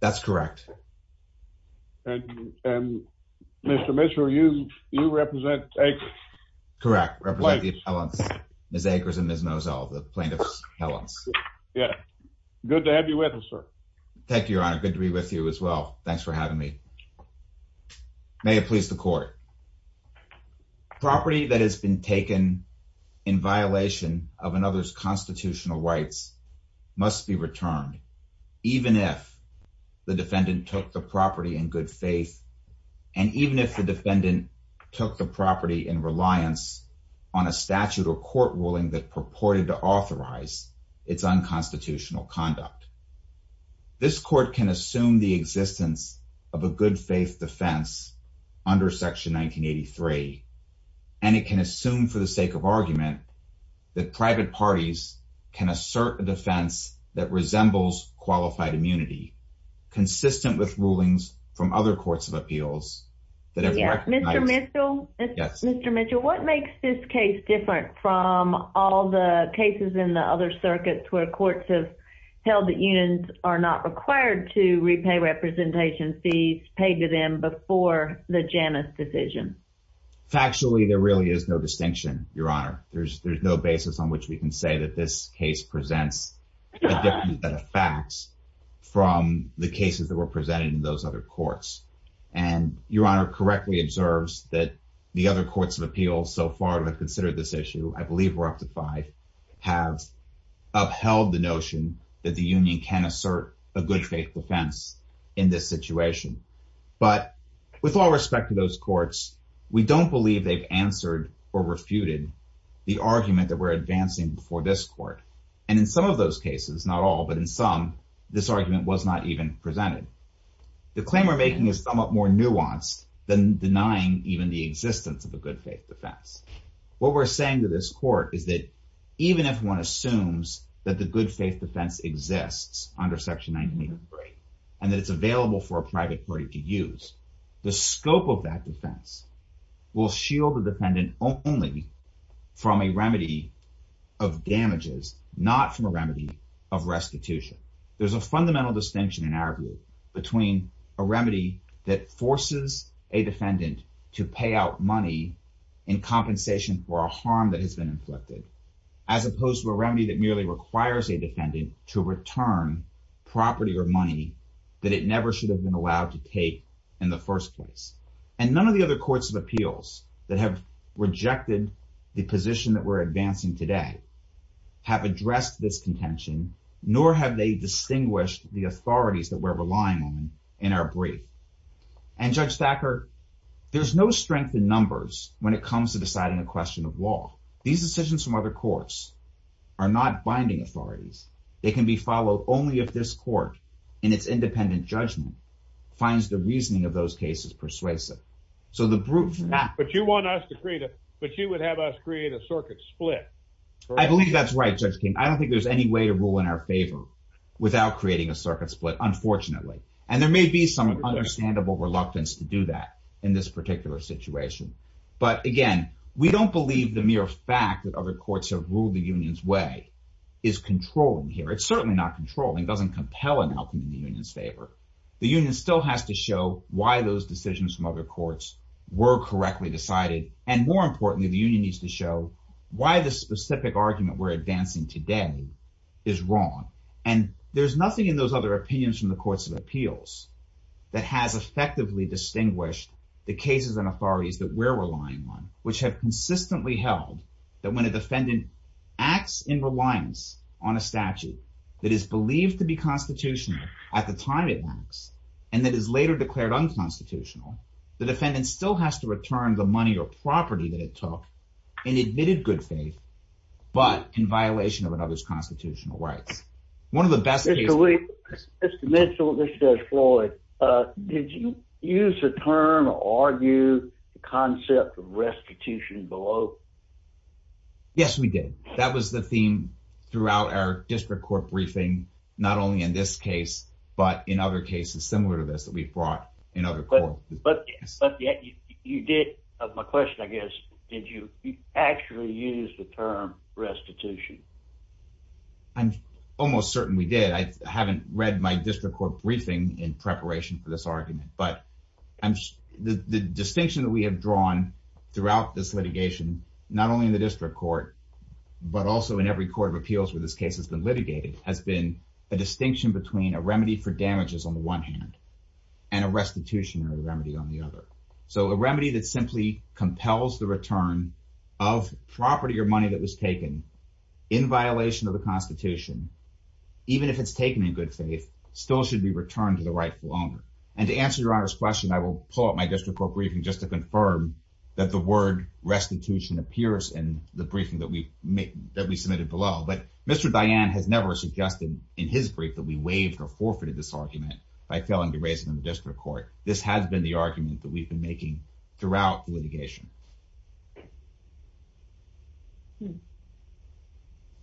That's correct. And Mr. Mitchell, you represent Akers. Correct. Represent the appellants. Ms. Akers and Ms. Nozell, the plaintiff's appellants. Yeah. Good to have you with us, sir. Thank you, Your Honor. Good to be with you as well. Thanks for having me. May it please the court. Mr. Mitchell. Mr. Mitchell, what makes this case different from all the cases in the other circuits where courts have held that unions are not required to repay representation fees, pay dividends, and so forth? Factually, there really is no distinction, Your Honor. There's no basis on which we can say that this case presents a different set of facts from the cases that were presented in those other courts. And Your Honor correctly observes that the other courts of appeals so far that have considered this issue, I believe we're up to five, have upheld the notion that the union can assert a good faith defense in this situation. But with all respect to those courts, we don't believe they've answered or refuted the argument that we're advancing before this court. And in some of those cases, not all, but in some, this argument was not even presented. The claim we're making is somewhat more nuanced than denying even the existence of a good faith defense. What we're saying to this court is that even if one assumes that the good faith defense exists under Section 98 of the Braintree and that it's available for a private party to use, the scope of that defense will shield the defendant only from a remedy of damages, not from a remedy of restitution. There's a fundamental distinction in our view between a remedy that forces a defendant to pay out money in compensation for a harm that has been inflicted, as opposed to a remedy that merely requires a defendant to return property or money that it never should have been allowed to take in the first place. And none of the other courts of appeals that have rejected the position that we're advancing today have addressed this contention, nor have they distinguished the authorities that we're relying on in our brief. And Judge Thacker, there's no strength in numbers when it comes to deciding a question of law. These decisions from other courts are not binding authorities. They can be followed only if this court, in its independent judgment, finds the reasoning of those cases persuasive. But you would have us create a circuit split. I believe that's right, Judge King. I don't think there's any way to rule in our favor without creating a circuit split, unfortunately. And there may be some understandable reluctance to do that in this particular situation. But again, we don't believe the mere fact that other courts have ruled the union's way is controlling here. It's certainly not controlling. It doesn't compel an outcome in the union's favor. The union still has to show why those decisions from other courts were correctly decided, and more importantly, the union needs to show why the specific argument we're advancing today is wrong. And there's nothing in those other opinions from the courts of appeals that has effectively distinguished the cases and authorities that we're relying on, which have consistently held that when a defendant acts in reliance on a statute that is believed to be constitutional at the time it acts and that is later declared unconstitutional, the defendant still has to return the money or property that it took in admitted good faith but in violation of another's constitutional rights. Mr. Mitchell, this is Floyd. Did you use the term or argue the concept of restitution below? Yes, we did. That was the theme throughout our district court briefing, not only in this case but in other cases similar to this that we've brought in other courts. But you did, my question I guess, did you actually use the term restitution? I'm almost certain we did. I haven't read my district court briefing in preparation for this argument. But the distinction that we have drawn throughout this litigation, not only in the district court but also in every court of appeals where this case has been litigated, has been a distinction between a remedy for damages on the one hand and a restitution or remedy on the other. So a remedy that simply compels the return of property or money that was taken in violation of the Constitution, even if it's taken in good faith, still should be returned to the rightful owner. And to answer your Honor's question, I will pull up my district court briefing just to confirm that the word restitution appears in the briefing that we submitted below. But Mr. Diane has never suggested in his brief that we waived or forfeited this argument by failing to raise it in the district court. This has been the argument that we've been making throughout the litigation.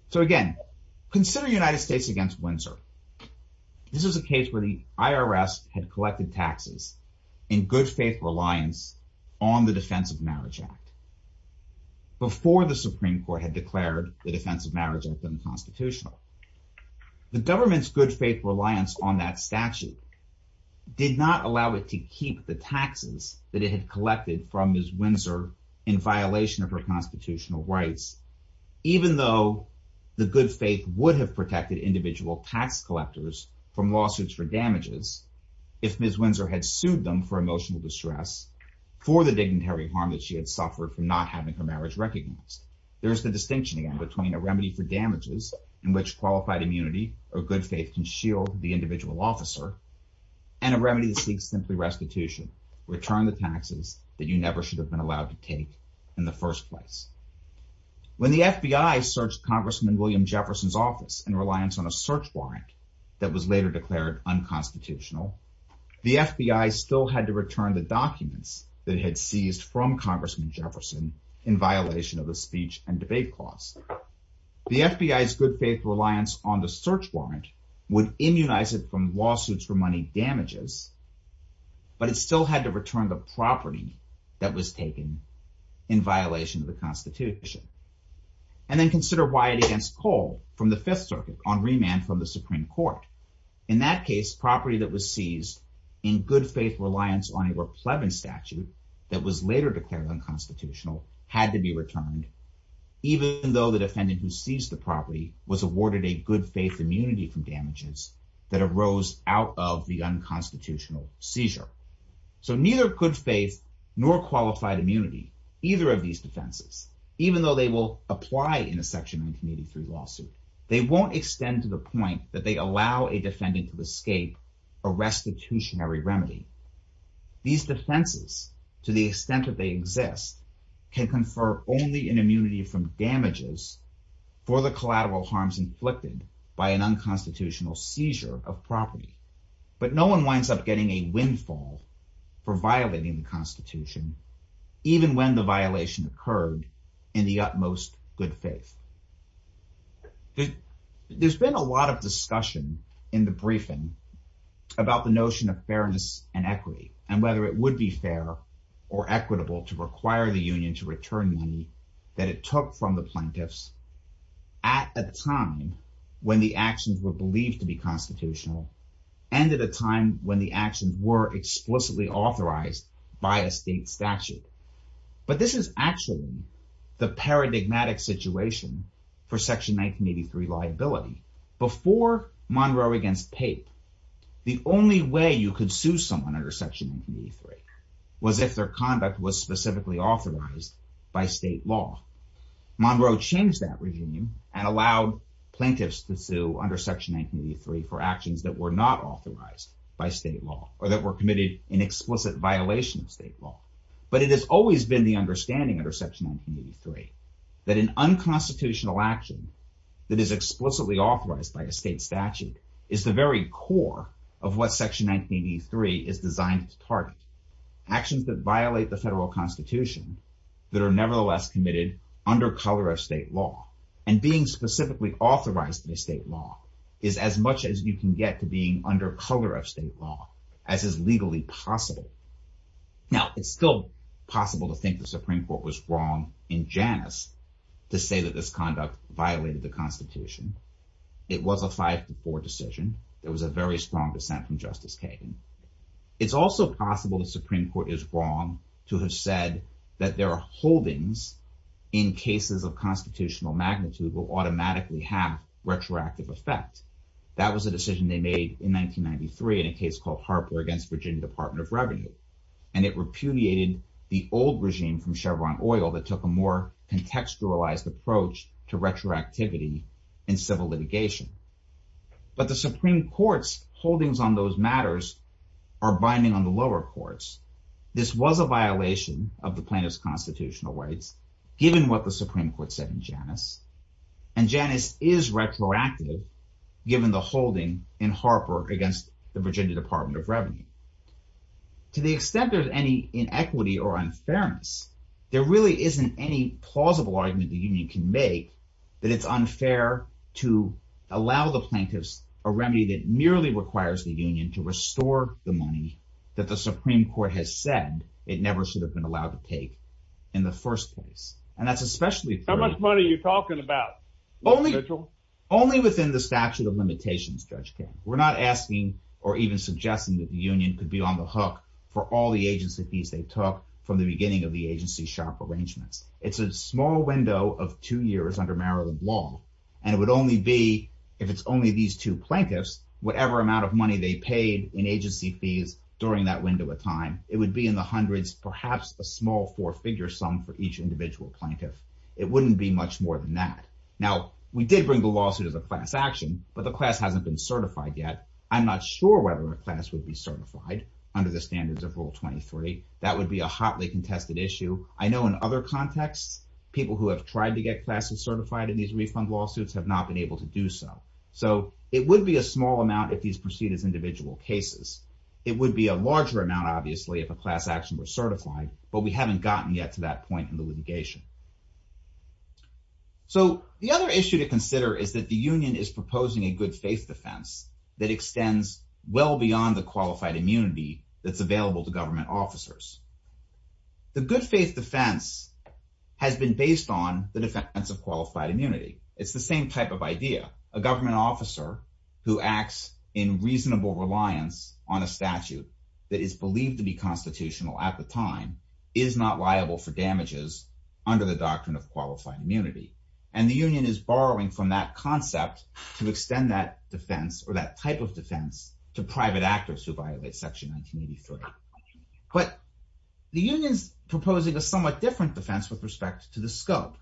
So again, consider United States against Windsor. This is a case where the IRS had collected taxes in good faith reliance on the Defense of Marriage Act. Before the Supreme Court had declared the Defense of Marriage Act unconstitutional. The government's good faith reliance on that statute did not allow it to keep the taxes that it had collected from Ms. Windsor in violation of her constitutional rights. Even though the good faith would have protected individual tax collectors from lawsuits for damages if Ms. Windsor had sued them for emotional distress for the dignitary harm that she had suffered from not having her marriage recognized. There's the distinction again between a remedy for damages in which qualified immunity or good faith can shield the individual officer. And a remedy that seeks simply restitution. Return the taxes that you never should have been allowed to take in the first place. When the FBI searched Congressman William Jefferson's office and reliance on a search warrant that was later declared unconstitutional. The FBI still had to return the documents that had seized from Congressman Jefferson in violation of the speech and debate clause. The FBI's good faith reliance on the search warrant would immunize it from lawsuits for money damages. But it still had to return the property that was taken in violation of the Constitution. And then consider Wyatt against Cole from the Fifth Circuit on remand from the Supreme Court. In that case, property that was seized in good faith reliance on a pleb and statute that was later declared unconstitutional had to be returned. Even though the defendant who seized the property was awarded a good faith immunity from damages that arose out of the unconstitutional seizure. So neither could faith nor qualified immunity. Either of these defenses, even though they will apply in a section 1983 lawsuit, they won't extend to the point that they allow a defendant to escape a restitutionary remedy. These defenses, to the extent that they exist, can confer only an immunity from damages for the collateral harms inflicted by an unconstitutional seizure of property. But no one winds up getting a windfall for violating the Constitution, even when the violation occurred in the utmost good faith. There's been a lot of discussion in the briefing about the notion of fairness and equity. And whether it would be fair or equitable to require the union to return money that it took from the plaintiffs at a time when the actions were believed to be constitutional. And at a time when the actions were explicitly authorized by a state statute. But this is actually the paradigmatic situation for Section 1983 liability. Before Monroe against Pape, the only way you could sue someone under Section 1983 was if their conduct was specifically authorized by state law. Monroe changed that regime and allowed plaintiffs to sue under Section 1983 for actions that were not authorized by state law or that were committed in explicit violation of state law. But it has always been the understanding under Section 1983 that an unconstitutional action that is explicitly authorized by a state statute is the very core of what Section 1983 is designed to target. Actions that violate the federal Constitution that are nevertheless committed under color of state law. And being specifically authorized by state law is as much as you can get to being under color of state law as is legally possible. Now, it's still possible to think the Supreme Court was wrong in Janus to say that this conduct violated the Constitution. It was a 5 to 4 decision. There was a very strong dissent from Justice Kagan. It's also possible the Supreme Court is wrong to have said that there are holdings in cases of constitutional magnitude will automatically have retroactive effect. That was a decision they made in 1993 in a case called Harper against Virginia Department of Revenue. And it repudiated the old regime from Chevron Oil that took a more contextualized approach to retroactivity in civil litigation. But the Supreme Court's holdings on those matters are binding on the lower courts. This was a violation of the plaintiff's constitutional rights given what the Supreme Court said in Janus. And Janus is retroactive given the holding in Harper against the Virginia Department of Revenue. To the extent there's any inequity or unfairness, there really isn't any plausible argument the union can make that it's unfair to allow the plaintiffs a remedy that merely requires the union to restore the money that the Supreme Court has said it never should have been allowed to take in the first place. How much money are you talking about? Only within the statute of limitations, Judge King. We're not asking or even suggesting that the union could be on the hook for all the agency fees they took from the beginning of the agency shop arrangements. It's a small window of two years under Maryland law. And it would only be, if it's only these two plaintiffs, whatever amount of money they paid in agency fees during that window of time. It would be in the hundreds, perhaps a small four-figure sum for each individual plaintiff. It wouldn't be much more than that. Now, we did bring the lawsuit as a class action, but the class hasn't been certified yet. I'm not sure whether the class would be certified under the standards of Rule 23. That would be a hotly contested issue. I know in other contexts, people who have tried to get classes certified in these refund lawsuits have not been able to do so. So it would be a small amount if these proceed as individual cases. It would be a larger amount, obviously, if a class action were certified, but we haven't gotten yet to that point in the litigation. So the other issue to consider is that the union is proposing a good-faith defense that extends well beyond the qualified immunity that's available to government officers. The good-faith defense has been based on the defense of qualified immunity. It's the same type of idea. A government officer who acts in reasonable reliance on a statute that is believed to be constitutional at the time is not liable for damages under the doctrine of qualified immunity. And the union is borrowing from that concept to extend that defense or that type of defense to private actors who violate Section 1983. But the union is proposing a somewhat different defense with respect to the scope.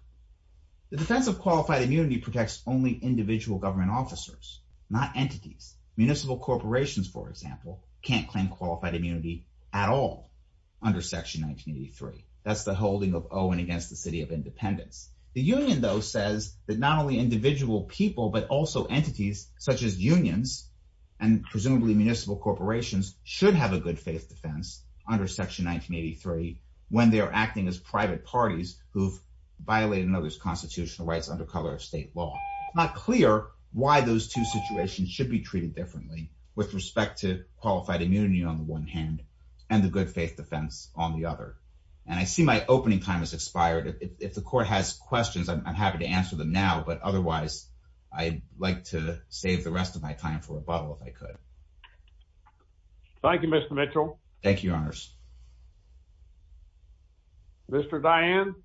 The defense of qualified immunity protects only individual government officers, not entities. Municipal corporations, for example, can't claim qualified immunity at all under Section 1983. That's the holding of Owen against the City of Independence. The union, though, says that not only individual people but also entities such as unions and presumably municipal corporations should have a good-faith defense under Section 1983 when they are acting as private parties who've violated another's constitutional rights under color of state law. It's not clear why those two situations should be treated differently with respect to qualified immunity on the one hand and the good-faith defense on the other. And I see my opening time has expired. If the court has questions, I'm happy to answer them now. But otherwise, I'd like to save the rest of my time for rebuttal if I could. Thank you, Mr. Mitchell. Thank you, Your Honors. Mr. Dianne?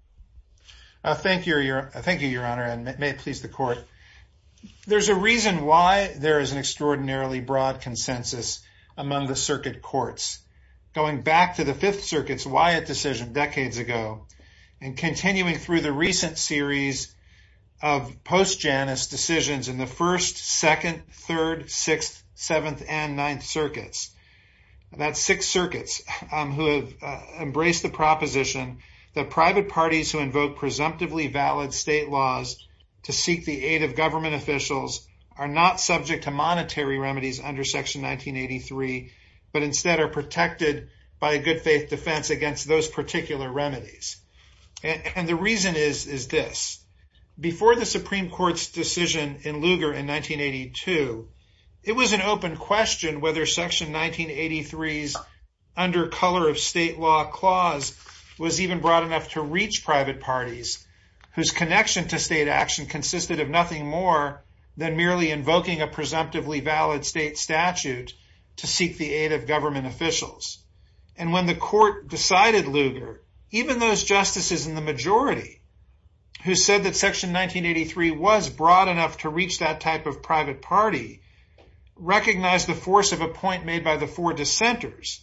Thank you, Your Honor, and may it please the court. There's a reason why there is an extraordinarily broad consensus among the circuit courts. Going back to the 5th Circuit's Wyatt decision decades ago and continuing through the recent series of post-Janus decisions in the 1st, 2nd, 3rd, 6th, 7th, and 9th Circuits. That's six circuits who have embraced the proposition that private parties who invoke presumptively valid state laws to seek the aid of government officials are not subject to monetary remedies under Section 1983, but instead are protected by a good-faith defense against those particular remedies. And the reason is this. Before the Supreme Court's decision in Lugar in 1982, it was an open question whether Section 1983's under-color-of-state-law clause was even broad enough to reach private parties, whose connection to state action consisted of nothing more than merely invoking a presumptively valid state statute to seek the aid of government officials. And when the court decided Lugar, even those justices in the majority who said that Section 1983 was broad enough to reach that type of private party recognized the force of a point made by the four dissenters,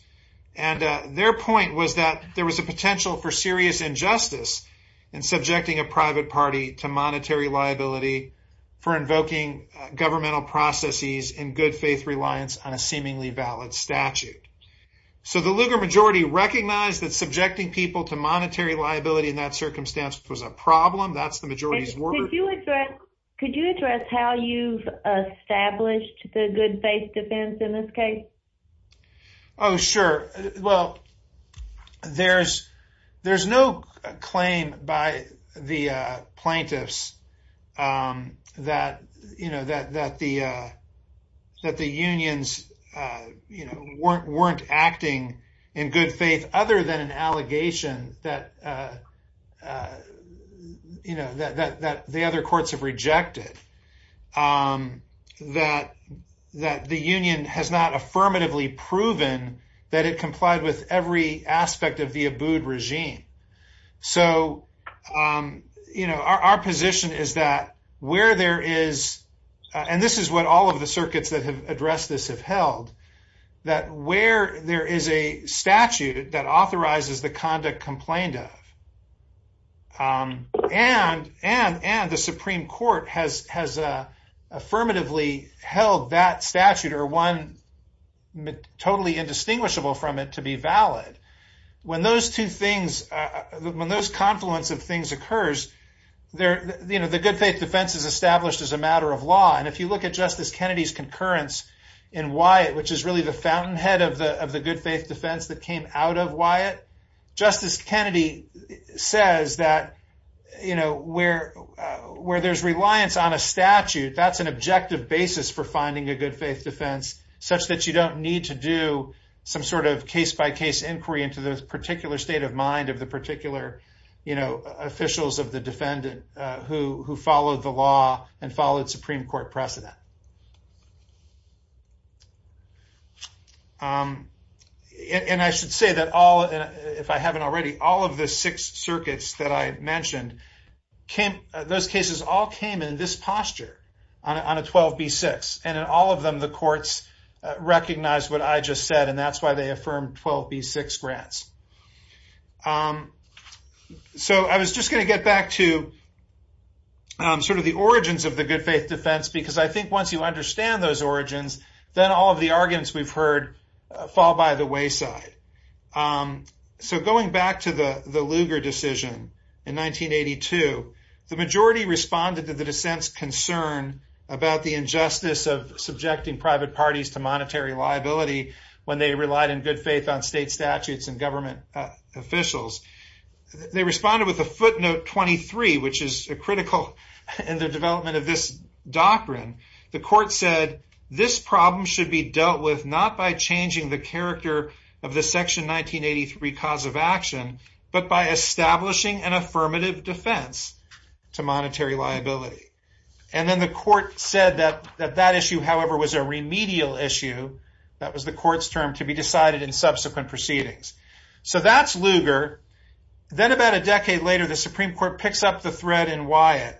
and their point was that there was a potential for serious injustice in subjecting a private party to monetary liability for invoking governmental processes in good-faith reliance on a seemingly valid statute. So the Lugar majority recognized that subjecting people to monetary liability in that circumstance was a problem. That's the majority's word. Could you address how you've established the good-faith defense in this case? Oh, sure. that it complied with every aspect of the Abood regime. So, you know, our position is that where there is – and this is what all of the circuits that have addressed this have held – that where there is a statute that authorizes the conduct complained of, and the Supreme Court has affirmatively held that statute or one totally indistinguishable from it to be valid, when those two things – when those confluence of things occurs, you know, the good-faith defense is established as a matter of law. And if you look at Justice Kennedy's concurrence in Wyatt, which is really the fountainhead of the good-faith defense that came out of Wyatt, Justice Kennedy says that, you know, where there's reliance on a statute, that's an objective basis for finding a good-faith defense such that you don't need to do some sort of case-by-case inquiry into the particular state of mind of the particular, you know, officials of the defendant who followed the law and followed Supreme Court principles. And I should say that all – if I haven't already – all of the six circuits that I mentioned came – those cases all came in this posture, on a 12b-6. And in all of them, the courts recognized what I just said, and that's why they affirmed 12b-6 grants. So I was just going to get back to sort of the origins of the good-faith defense, because I think once you understand those origins, then all of the arguments we've heard fall by the wayside. So going back to the Lugar decision in 1982, the majority responded to the dissent's concern about the injustice of subjecting private parties to monetary liability when they relied in good faith on state statutes and government officials. They responded with a footnote 23, which is critical in the development of this doctrine. The court said, this problem should be dealt with not by changing the character of the Section 1983 cause of action, but by establishing an affirmative defense to monetary liability. And then the court said that that issue, however, was a remedial issue – that was the court's term – to be decided in subsequent proceedings. So that's Lugar. Then about a decade later, the Supreme Court picks up the thread in Wyatt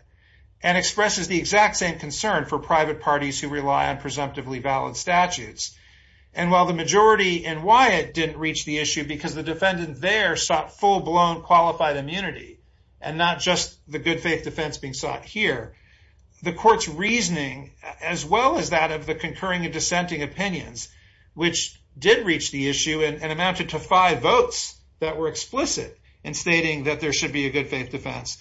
and expresses the exact same concern for private parties who rely on presumptively valid statutes. And while the majority in Wyatt didn't reach the issue because the defendant there sought full-blown qualified immunity, and not just the good-faith defense being sought here, the court's reasoning, as well as that of the concurring and dissenting opinions, which did reach the issue and amounted to five votes that were explicit in stating that there should be a good-faith defense.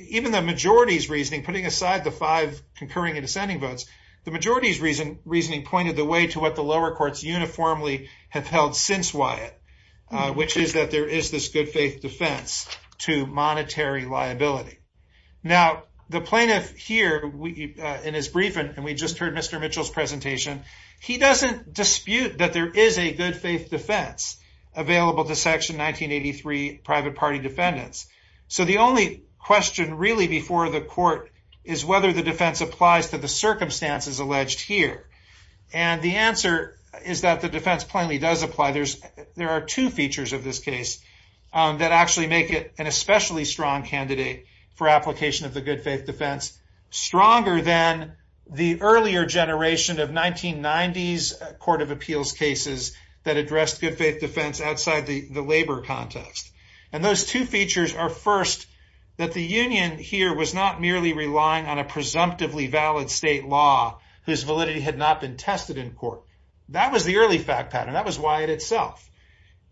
Even the majority's reasoning, putting aside the five concurring and dissenting votes, the majority's reasoning pointed the way to what the lower courts uniformly have held since Wyatt, which is that there is this good-faith defense to monetary liability. Now, the plaintiff here, in his brief, and we just heard Mr. Mitchell's presentation, he doesn't dispute that there is a good-faith defense available to Section 1983 private party defendants. So the only question really before the court is whether the defense applies to the circumstances alleged here. And the answer is that the defense plainly does apply. There are two features of this case that actually make it an especially strong candidate for application of the good-faith defense, stronger than the earlier generation of 1990s court of appeals cases that addressed good-faith defense outside the labor context. And those two features are, first, that the union here was not merely relying on a presumptively valid state law whose validity had not been tested in court. That was the early fact pattern. That was Wyatt itself.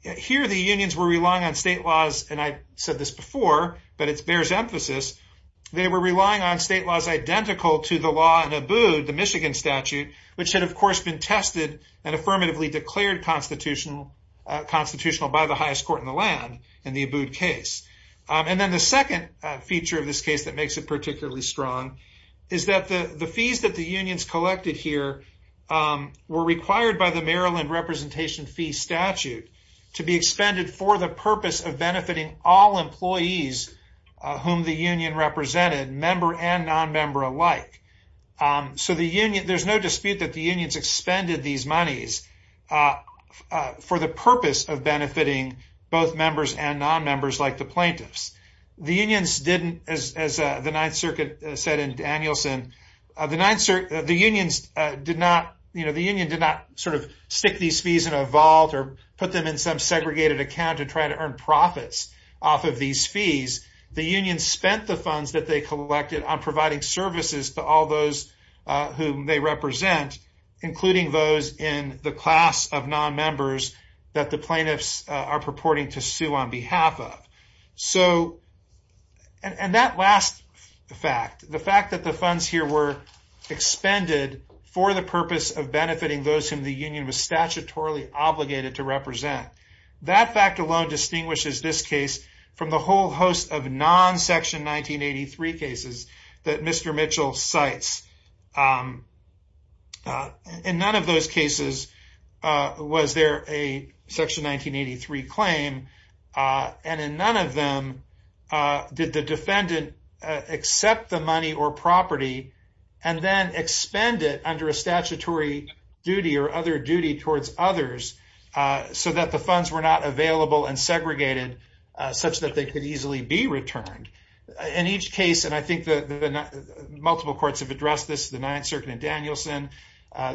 Here, the unions were relying on state laws, and I said this before, but it bears emphasis, they were relying on state laws identical to the law in Abood, the Michigan statute, which had of course been tested and affirmatively declared constitutional by the highest court in the land in the Abood case. And then the second feature of this case that makes it particularly strong is that the fees that the unions collected here were required by the Maryland representation fee statute to be expended for the purpose of benefiting all employees whom the union represented, member and non-member alike. So the union, there's no dispute that the unions expended these monies for the purpose of benefiting both members and non-members like the plaintiffs. The unions didn't, as the Ninth Circuit said in Danielson, the unions did not, you know, the union did not sort of stick these fees in a vault or put them in some segregated account to try to earn profits off of these fees. The unions spent the funds that they collected on providing services to all those whom they represent, including those in the class of non-members that the plaintiffs are purporting to sue on behalf of. So, and that last fact, the fact that the funds here were expended for the purpose of benefiting those whom the union was statutorily obligated to represent, that fact alone distinguishes this case from the whole host of non-Section 1983 cases that Mr. Mitchell cites. In none of those cases was there a Section 1983 claim, and in none of them did the defendant accept the money or property and then expend it under a statutory duty or other duty towards others so that the funds were not available and segregated such that they could easily be returned. In each case, and I think that multiple courts have addressed this, the Ninth Circuit in Danielson,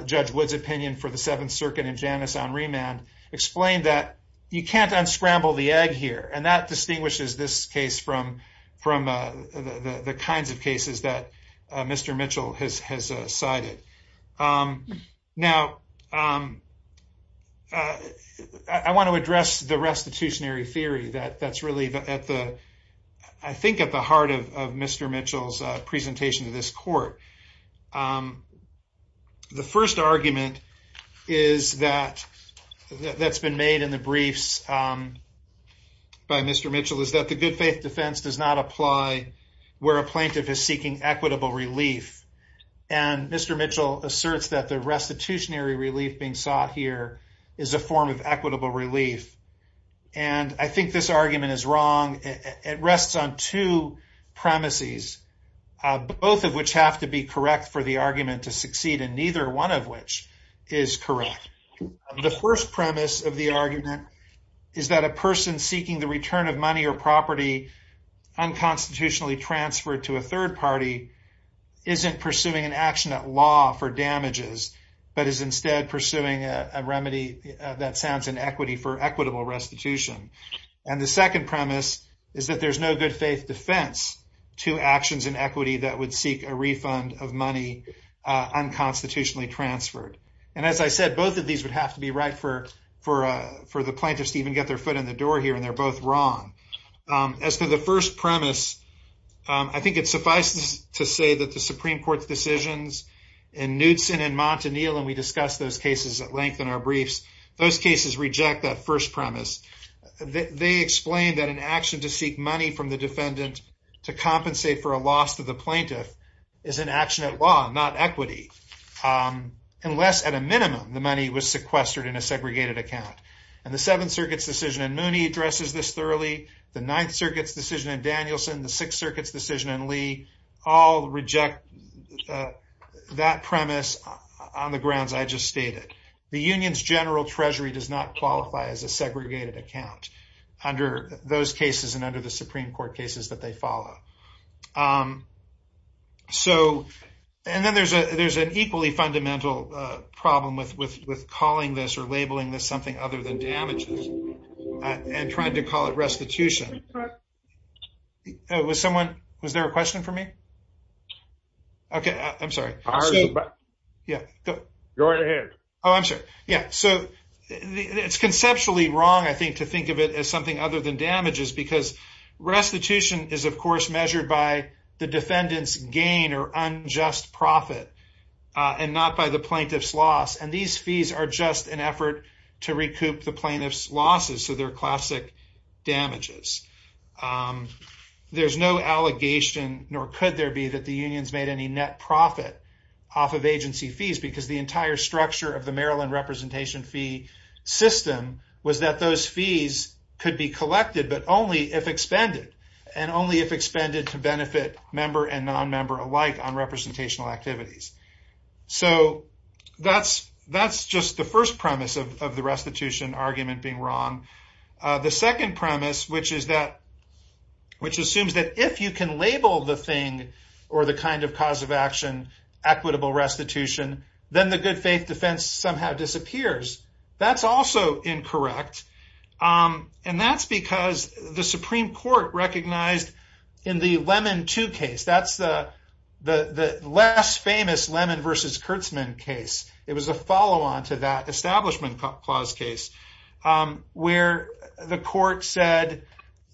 Judge Wood's opinion for the Seventh Circuit and Janice on remand, explained that you can't unscramble the egg here, and that distinguishes this case from the kinds of cases that Mr. Mitchell has cited. Now, I want to address the restitutionary theory that's really at the, I think, at the heart of Mr. Mitchell's presentation to this court. The first argument is that, that's been made in the briefs by Mr. Mitchell, is that the good faith defense does not apply where a plaintiff is seeking equitable relief. And Mr. Mitchell asserts that the restitutionary relief being sought here is a form of equitable relief. And I think this argument is wrong. It rests on two premises, both of which have to be correct for the argument to succeed, and neither one of which is correct. The first premise of the argument is that a person seeking the return of money or property unconstitutionally transferred to a third party isn't pursuing an action at law for damages, but is instead pursuing a remedy that sounds in equity for equitable restitution. And the second premise is that there's no good faith defense to actions in equity that would seek a refund of money unconstitutionally transferred. And as I said, both of these would have to be right for the plaintiffs to even get their foot in the door here, and they're both wrong. As for the first premise, I think it suffices to say that the Supreme Court's decisions in Knudsen and Montanil, and we discussed those cases at length in our briefs, those cases reject that first premise. They explain that an action to seek money from the defendant to compensate for a loss to the plaintiff is an action at law, not equity, unless at a minimum the money was sequestered in a segregated account. And the Seventh Circuit's decision in Mooney addresses this thoroughly, the Ninth Circuit's decision in Danielson, the Sixth Circuit's decision in Lee, all reject that premise on the grounds I just stated. The union's general treasury does not qualify as a segregated account under those cases and under the Supreme Court cases that they follow. And then there's an equally fundamental problem with calling this or labeling this something other than damages and trying to call it restitution. Was there a question for me? Okay, I'm sorry. Yeah. Go right ahead. Oh, I'm sorry. Yeah. So it's conceptually wrong, I think, to think of it as something other than damages because restitution is, of course, measured by the defendant's gain or unjust profit and not by the plaintiff's loss. And these fees are just an effort to recoup the plaintiff's losses. So they're classic damages. There's no allegation, nor could there be, that the unions made any net profit off of agency fees because the entire structure of the Maryland representation fee system was that those fees could be collected, but only if expended, and only if expended to benefit member and nonmember alike on representational activities. So that's just the first premise of the restitution argument being wrong. The second premise, which assumes that if you can label the thing or the kind of cause of action equitable restitution, then the good faith defense somehow disappears. That's also incorrect. And that's because the Supreme Court recognized in the Lemon 2 case, that's the less famous Lemon v. Kurtzman case. It was a follow-on to that Establishment Clause case where the court said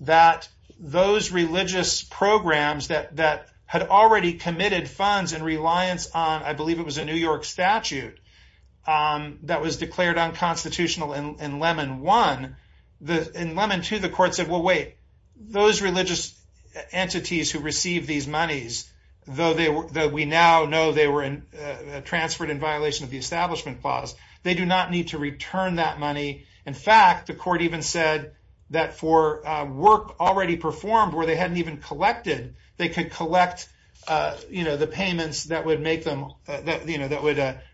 that those religious programs that had already committed funds in reliance on, I believe it was a New York statute, that was declared unconstitutional in Lemon 1. In Lemon 2, the court said, well, wait, those religious entities who received these monies, though we now know they were transferred in violation of the Establishment Clause, they do not need to return that money. In fact, the court even said that for work already performed where they hadn't even collected, they could collect the payments that would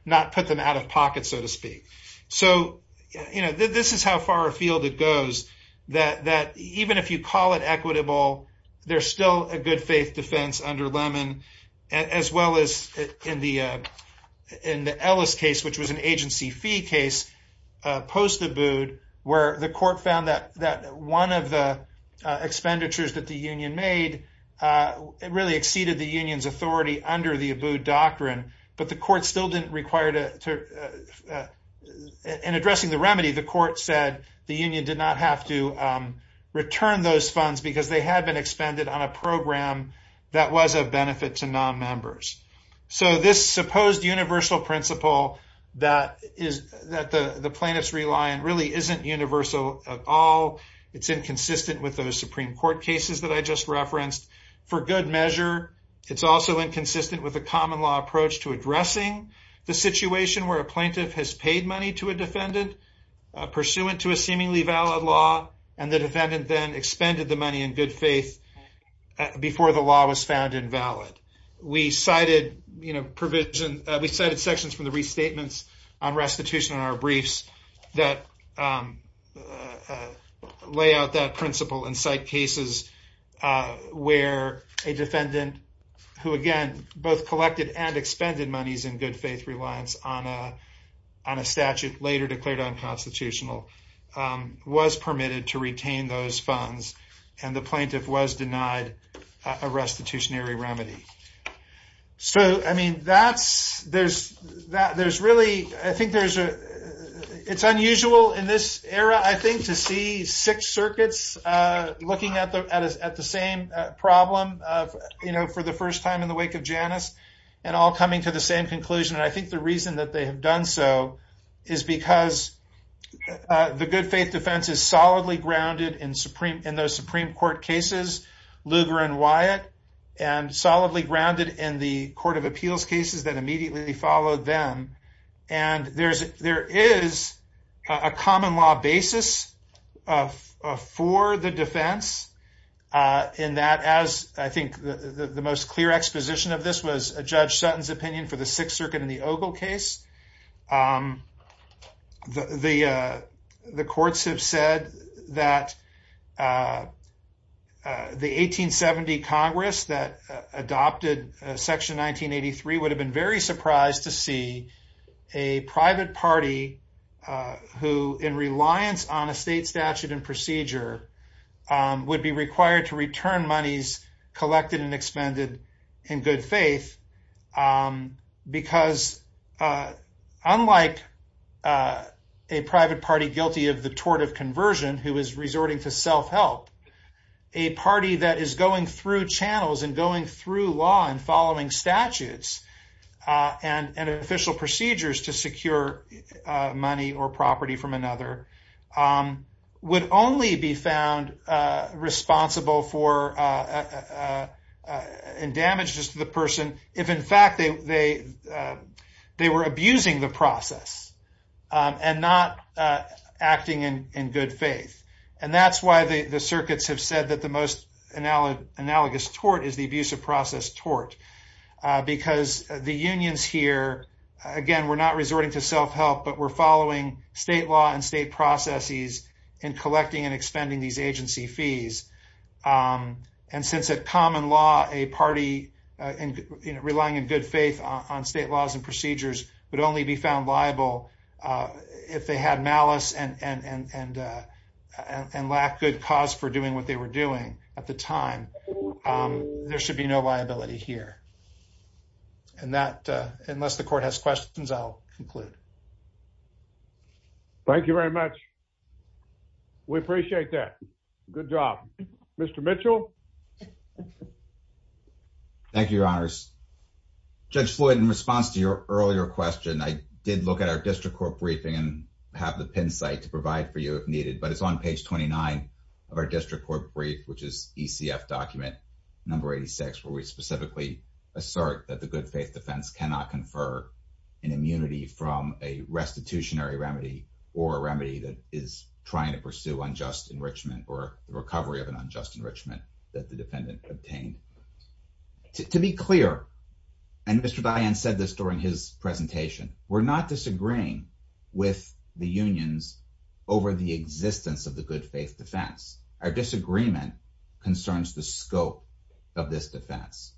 not put them out of pocket, so to speak. So this is how far afield it goes, that even if you call it equitable, there's still a good faith defense under Lemon, as well as in the Ellis case, which was an agency fee case, post-Abood, where the court found that one of the expenditures that the union made really exceeded the union's authority under the Abood doctrine. But the court still didn't require, in addressing the remedy, the court said the union did not have to return those funds because they had been expended on a program that was of benefit to non-members. So this supposed universal principle that the plaintiffs rely on really isn't universal at all. It's inconsistent with those Supreme Court cases that I just referenced. For good measure, it's also inconsistent with the common law approach to addressing the situation where a plaintiff has paid money to a defendant pursuant to a seemingly valid law, and the defendant then expended the money in good faith before the law was found invalid. We cited sections from the restatements on restitution in our briefs that lay out that principle and cite cases where a defendant, who again, both collected and expended monies in good faith reliance on a statute later declared unconstitutional, was permitted to retain those funds, and the plaintiff was denied a restitutionary remedy. So, I mean, that's, there's really, I think there's a, it's unusual in this era, I think, to see six circuits looking at the same problem, you know, for the first time in the wake of Janus, and all coming to the same conclusion. And I think the reason that they have done so is because the good faith defense is solidly grounded in those Supreme Court cases, Lugar and Wyatt, and solidly grounded in the court of appeals cases that immediately followed them. And there is a common law basis for the defense in that, as I think the most clear exposition of this was Judge Sutton's opinion for the Sixth Circuit in the Ogle case. The courts have said that the 1870 Congress that adopted Section 1983 would have been very surprised to see a private party who, in reliance on a state statute and procedure, would be required to return monies collected and expended in good faith. Because, unlike a private party guilty of the tort of conversion, who is resorting to self-help, a party that is going through channels and going through law and following statutes and official procedures to secure money or property from another would only be found responsible for damages to the person if, in fact, they were abusing the process and not acting in good faith. And that's why the circuits have said that the most analogous tort is the abusive process tort. Because the unions here, again, were not resorting to self-help, but were following state law and state processes in collecting and expending these agency fees. And since a common law, a party relying in good faith on state laws and procedures would only be found liable if they had malice and lacked good cause for doing what they were doing at the time, there should be no liability here. And that, unless the court has questions, I'll conclude. Thank you very much. We appreciate that. Good job. Mr. Mitchell? Thank you, Your Honors. Judge Floyd, in response to your earlier question, I did look at our district court briefing and have the pin site to provide for you if needed. But it's on page 29 of our district court brief, which is ECF document number 86, where we specifically assert that the good faith defense cannot confer an immunity from a restitutionary remedy or a remedy that is trying to pursue unjust enrichment or the recovery of an unjust enrichment that the defendant obtained. To be clear, and Mr. Diane said this during his presentation, we're not disagreeing with the unions over the existence of the good faith defense. Our disagreement concerns the scope of this defense.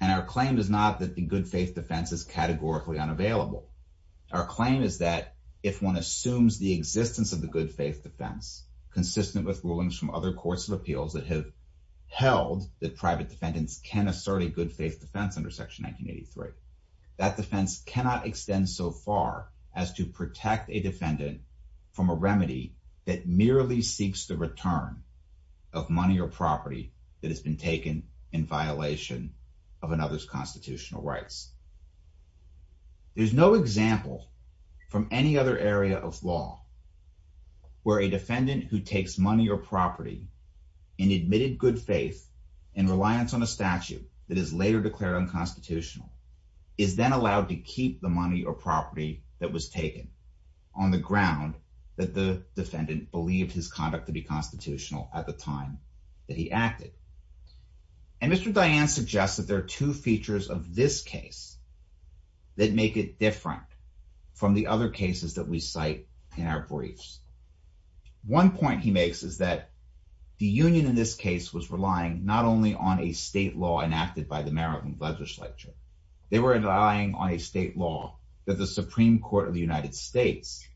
And our claim is not that the good faith defense is categorically unavailable. Our claim is that if one assumes the existence of the good faith defense, consistent with rulings from other courts of appeals that have held that private defendants can assert a good faith defense under Section 1983, that defense cannot extend so far as to protect a defendant from a remedy that merely seeks the return of money or property that has been taken in violation of another's constitutional rights. There's no example from any other area of law where a defendant who takes money or property and admitted good faith and reliance on a statute that is later declared unconstitutional is then allowed to keep the money or property that was taken on the ground that the defendant believed his conduct to be constitutional at the time that he acted. And Mr. Diane suggests that there are two features of this case that make it different from the other cases that we cite in our briefs. One point he makes is that the union in this case was relying not only on a state law enacted by the Maryland legislature. They were relying on a state law that the Supreme Court of the United States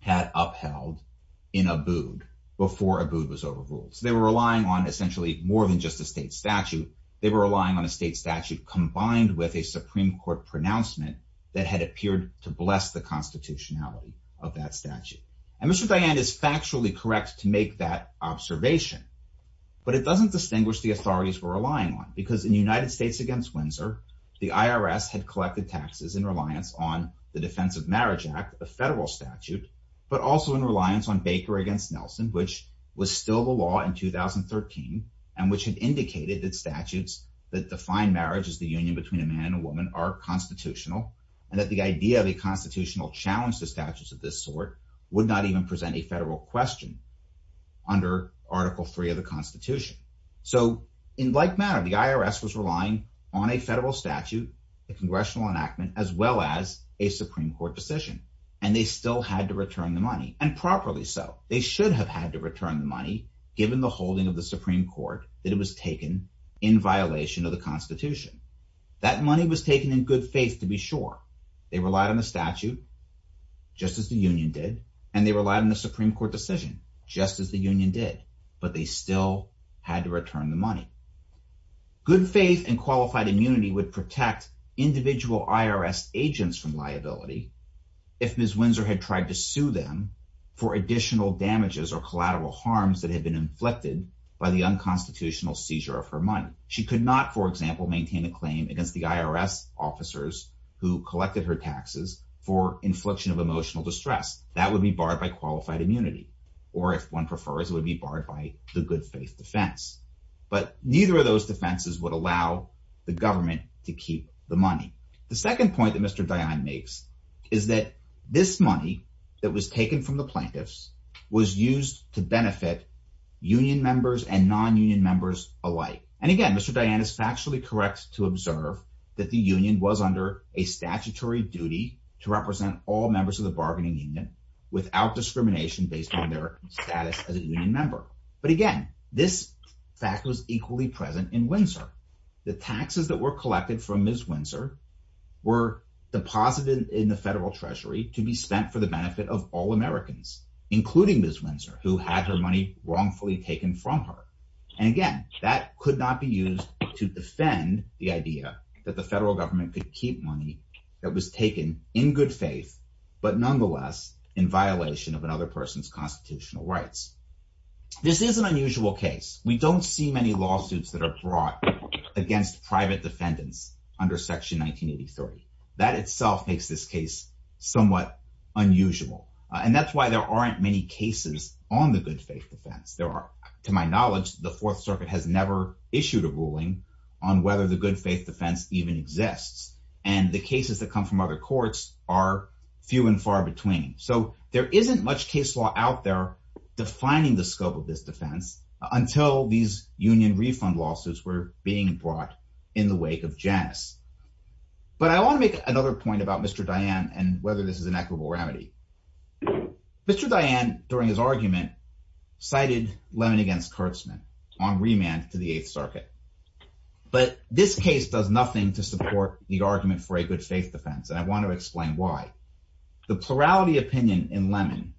had upheld in Abood before Abood was overruled. So they were relying on essentially more than just a state statute. They were relying on a state statute combined with a Supreme Court pronouncement that had appeared to bless the constitutionality of that statute. And Mr. Diane is factually correct to make that observation. But it doesn't distinguish the authorities we're relying on because in the United States against Windsor, the IRS had collected taxes in reliance on the Defense of Marriage Act, a federal statute, but also in reliance on Baker against Nelson, which was still the law in 2013, and which had indicated that statutes that define marriage as the union between a man and a woman are constitutional. And that the idea of a constitutional challenge to statutes of this sort would not even present a federal question under Article III of the Constitution. So in like manner, the IRS was relying on a federal statute, a congressional enactment, as well as a Supreme Court decision. And they still had to return the money, and properly so. They should have had to return the money given the holding of the Supreme Court that it was taken in violation of the Constitution. That money was taken in good faith to be sure. They relied on the statute, just as the union did, and they relied on the Supreme Court decision, just as the union did. But they still had to return the money. Good faith and qualified immunity would protect individual IRS agents from liability if Ms. Windsor had tried to sue them for additional damages or collateral harms that had been inflicted by the unconstitutional seizure of her money. She could not, for example, maintain a claim against the IRS officers who collected her taxes for infliction of emotional distress. That would be barred by qualified immunity. Or if one prefers, it would be barred by the good faith defense. But neither of those defenses would allow the government to keep the money. The second point that Mr. Dayan makes is that this money that was taken from the plaintiffs was used to benefit union members and non-union members alike. And again, Mr. Dayan is factually correct to observe that the union was under a statutory duty to represent all members of the bargaining union without discrimination based on their status as a union member. But again, this fact was equally present in Windsor. The taxes that were collected from Ms. Windsor were deposited in the federal treasury to be spent for the benefit of all Americans, including Ms. Windsor, who had her money wrongfully taken from her. And again, that could not be used to defend the idea that the federal government could keep money that was taken in good faith, but nonetheless in violation of another person's constitutional rights. This is an unusual case. We don't see many lawsuits that are brought against private defendants under Section 1983. That itself makes this case somewhat unusual. And that's why there aren't many cases on the good faith defense. There are, to my knowledge, the Fourth Circuit has never issued a ruling on whether the good faith defense even exists. And the cases that come from other courts are few and far between. So there isn't much case law out there defining the scope of this defense until these union refund lawsuits were being brought in the wake of Janus. But I want to make another point about Mr. Dayan and whether this is an equitable remedy. Mr. Dayan, during his argument, cited Lemon v. Kurtzman on remand to the Eighth Circuit. But this case does nothing to support the argument for a good faith defense, and I want to explain why. The plurality opinion in Lemon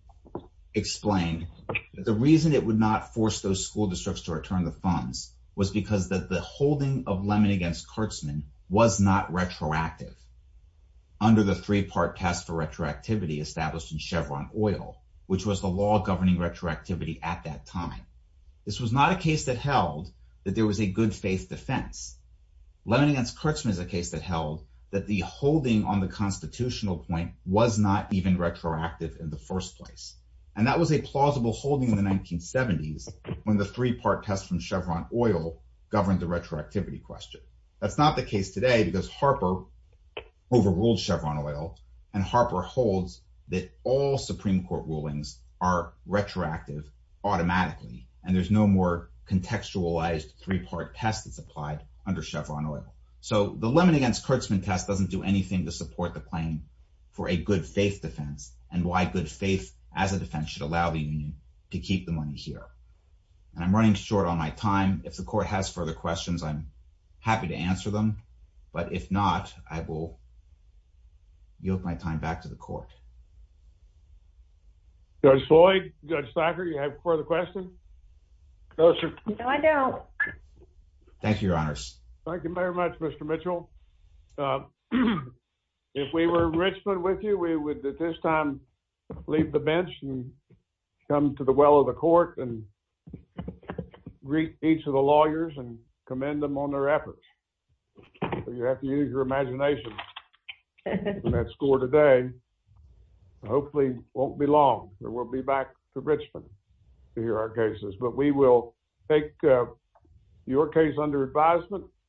explained that the reason it would not force those school districts to return the funds was because the holding of Lemon v. Kurtzman was not retroactive. Under the three-part test for retroactivity established in Chevron Oil, which was the law governing retroactivity at that time. This was not a case that held that there was a good faith defense. Lemon v. Kurtzman is a case that held that the holding on the constitutional point was not even retroactive in the first place. And that was a plausible holding in the 1970s when the three-part test from Chevron Oil governed the retroactivity question. That's not the case today because Harper overruled Chevron Oil, and Harper holds that all Supreme Court rulings are retroactive automatically. And there's no more contextualized three-part test that's applied under Chevron Oil. So the Lemon v. Kurtzman test doesn't do anything to support the claim for a good faith defense and why good faith as a defense should allow the union to keep the money here. And I'm running short on my time. If the court has further questions, I'm happy to answer them. But if not, I will yield my time back to the court. Judge Floyd, Judge Thacker, you have further questions? No, sir. No, I don't. Thank you, Your Honors. Thank you very much, Mr. Mitchell. If we were in Richmond with you, we would at this time leave the bench and come to the well of the court and greet each of the lawyers and commend them on their efforts. You have to use your imagination on that score today. Hopefully it won't be long. We'll be back to Richmond to hear our cases. But we will take your case under advisement.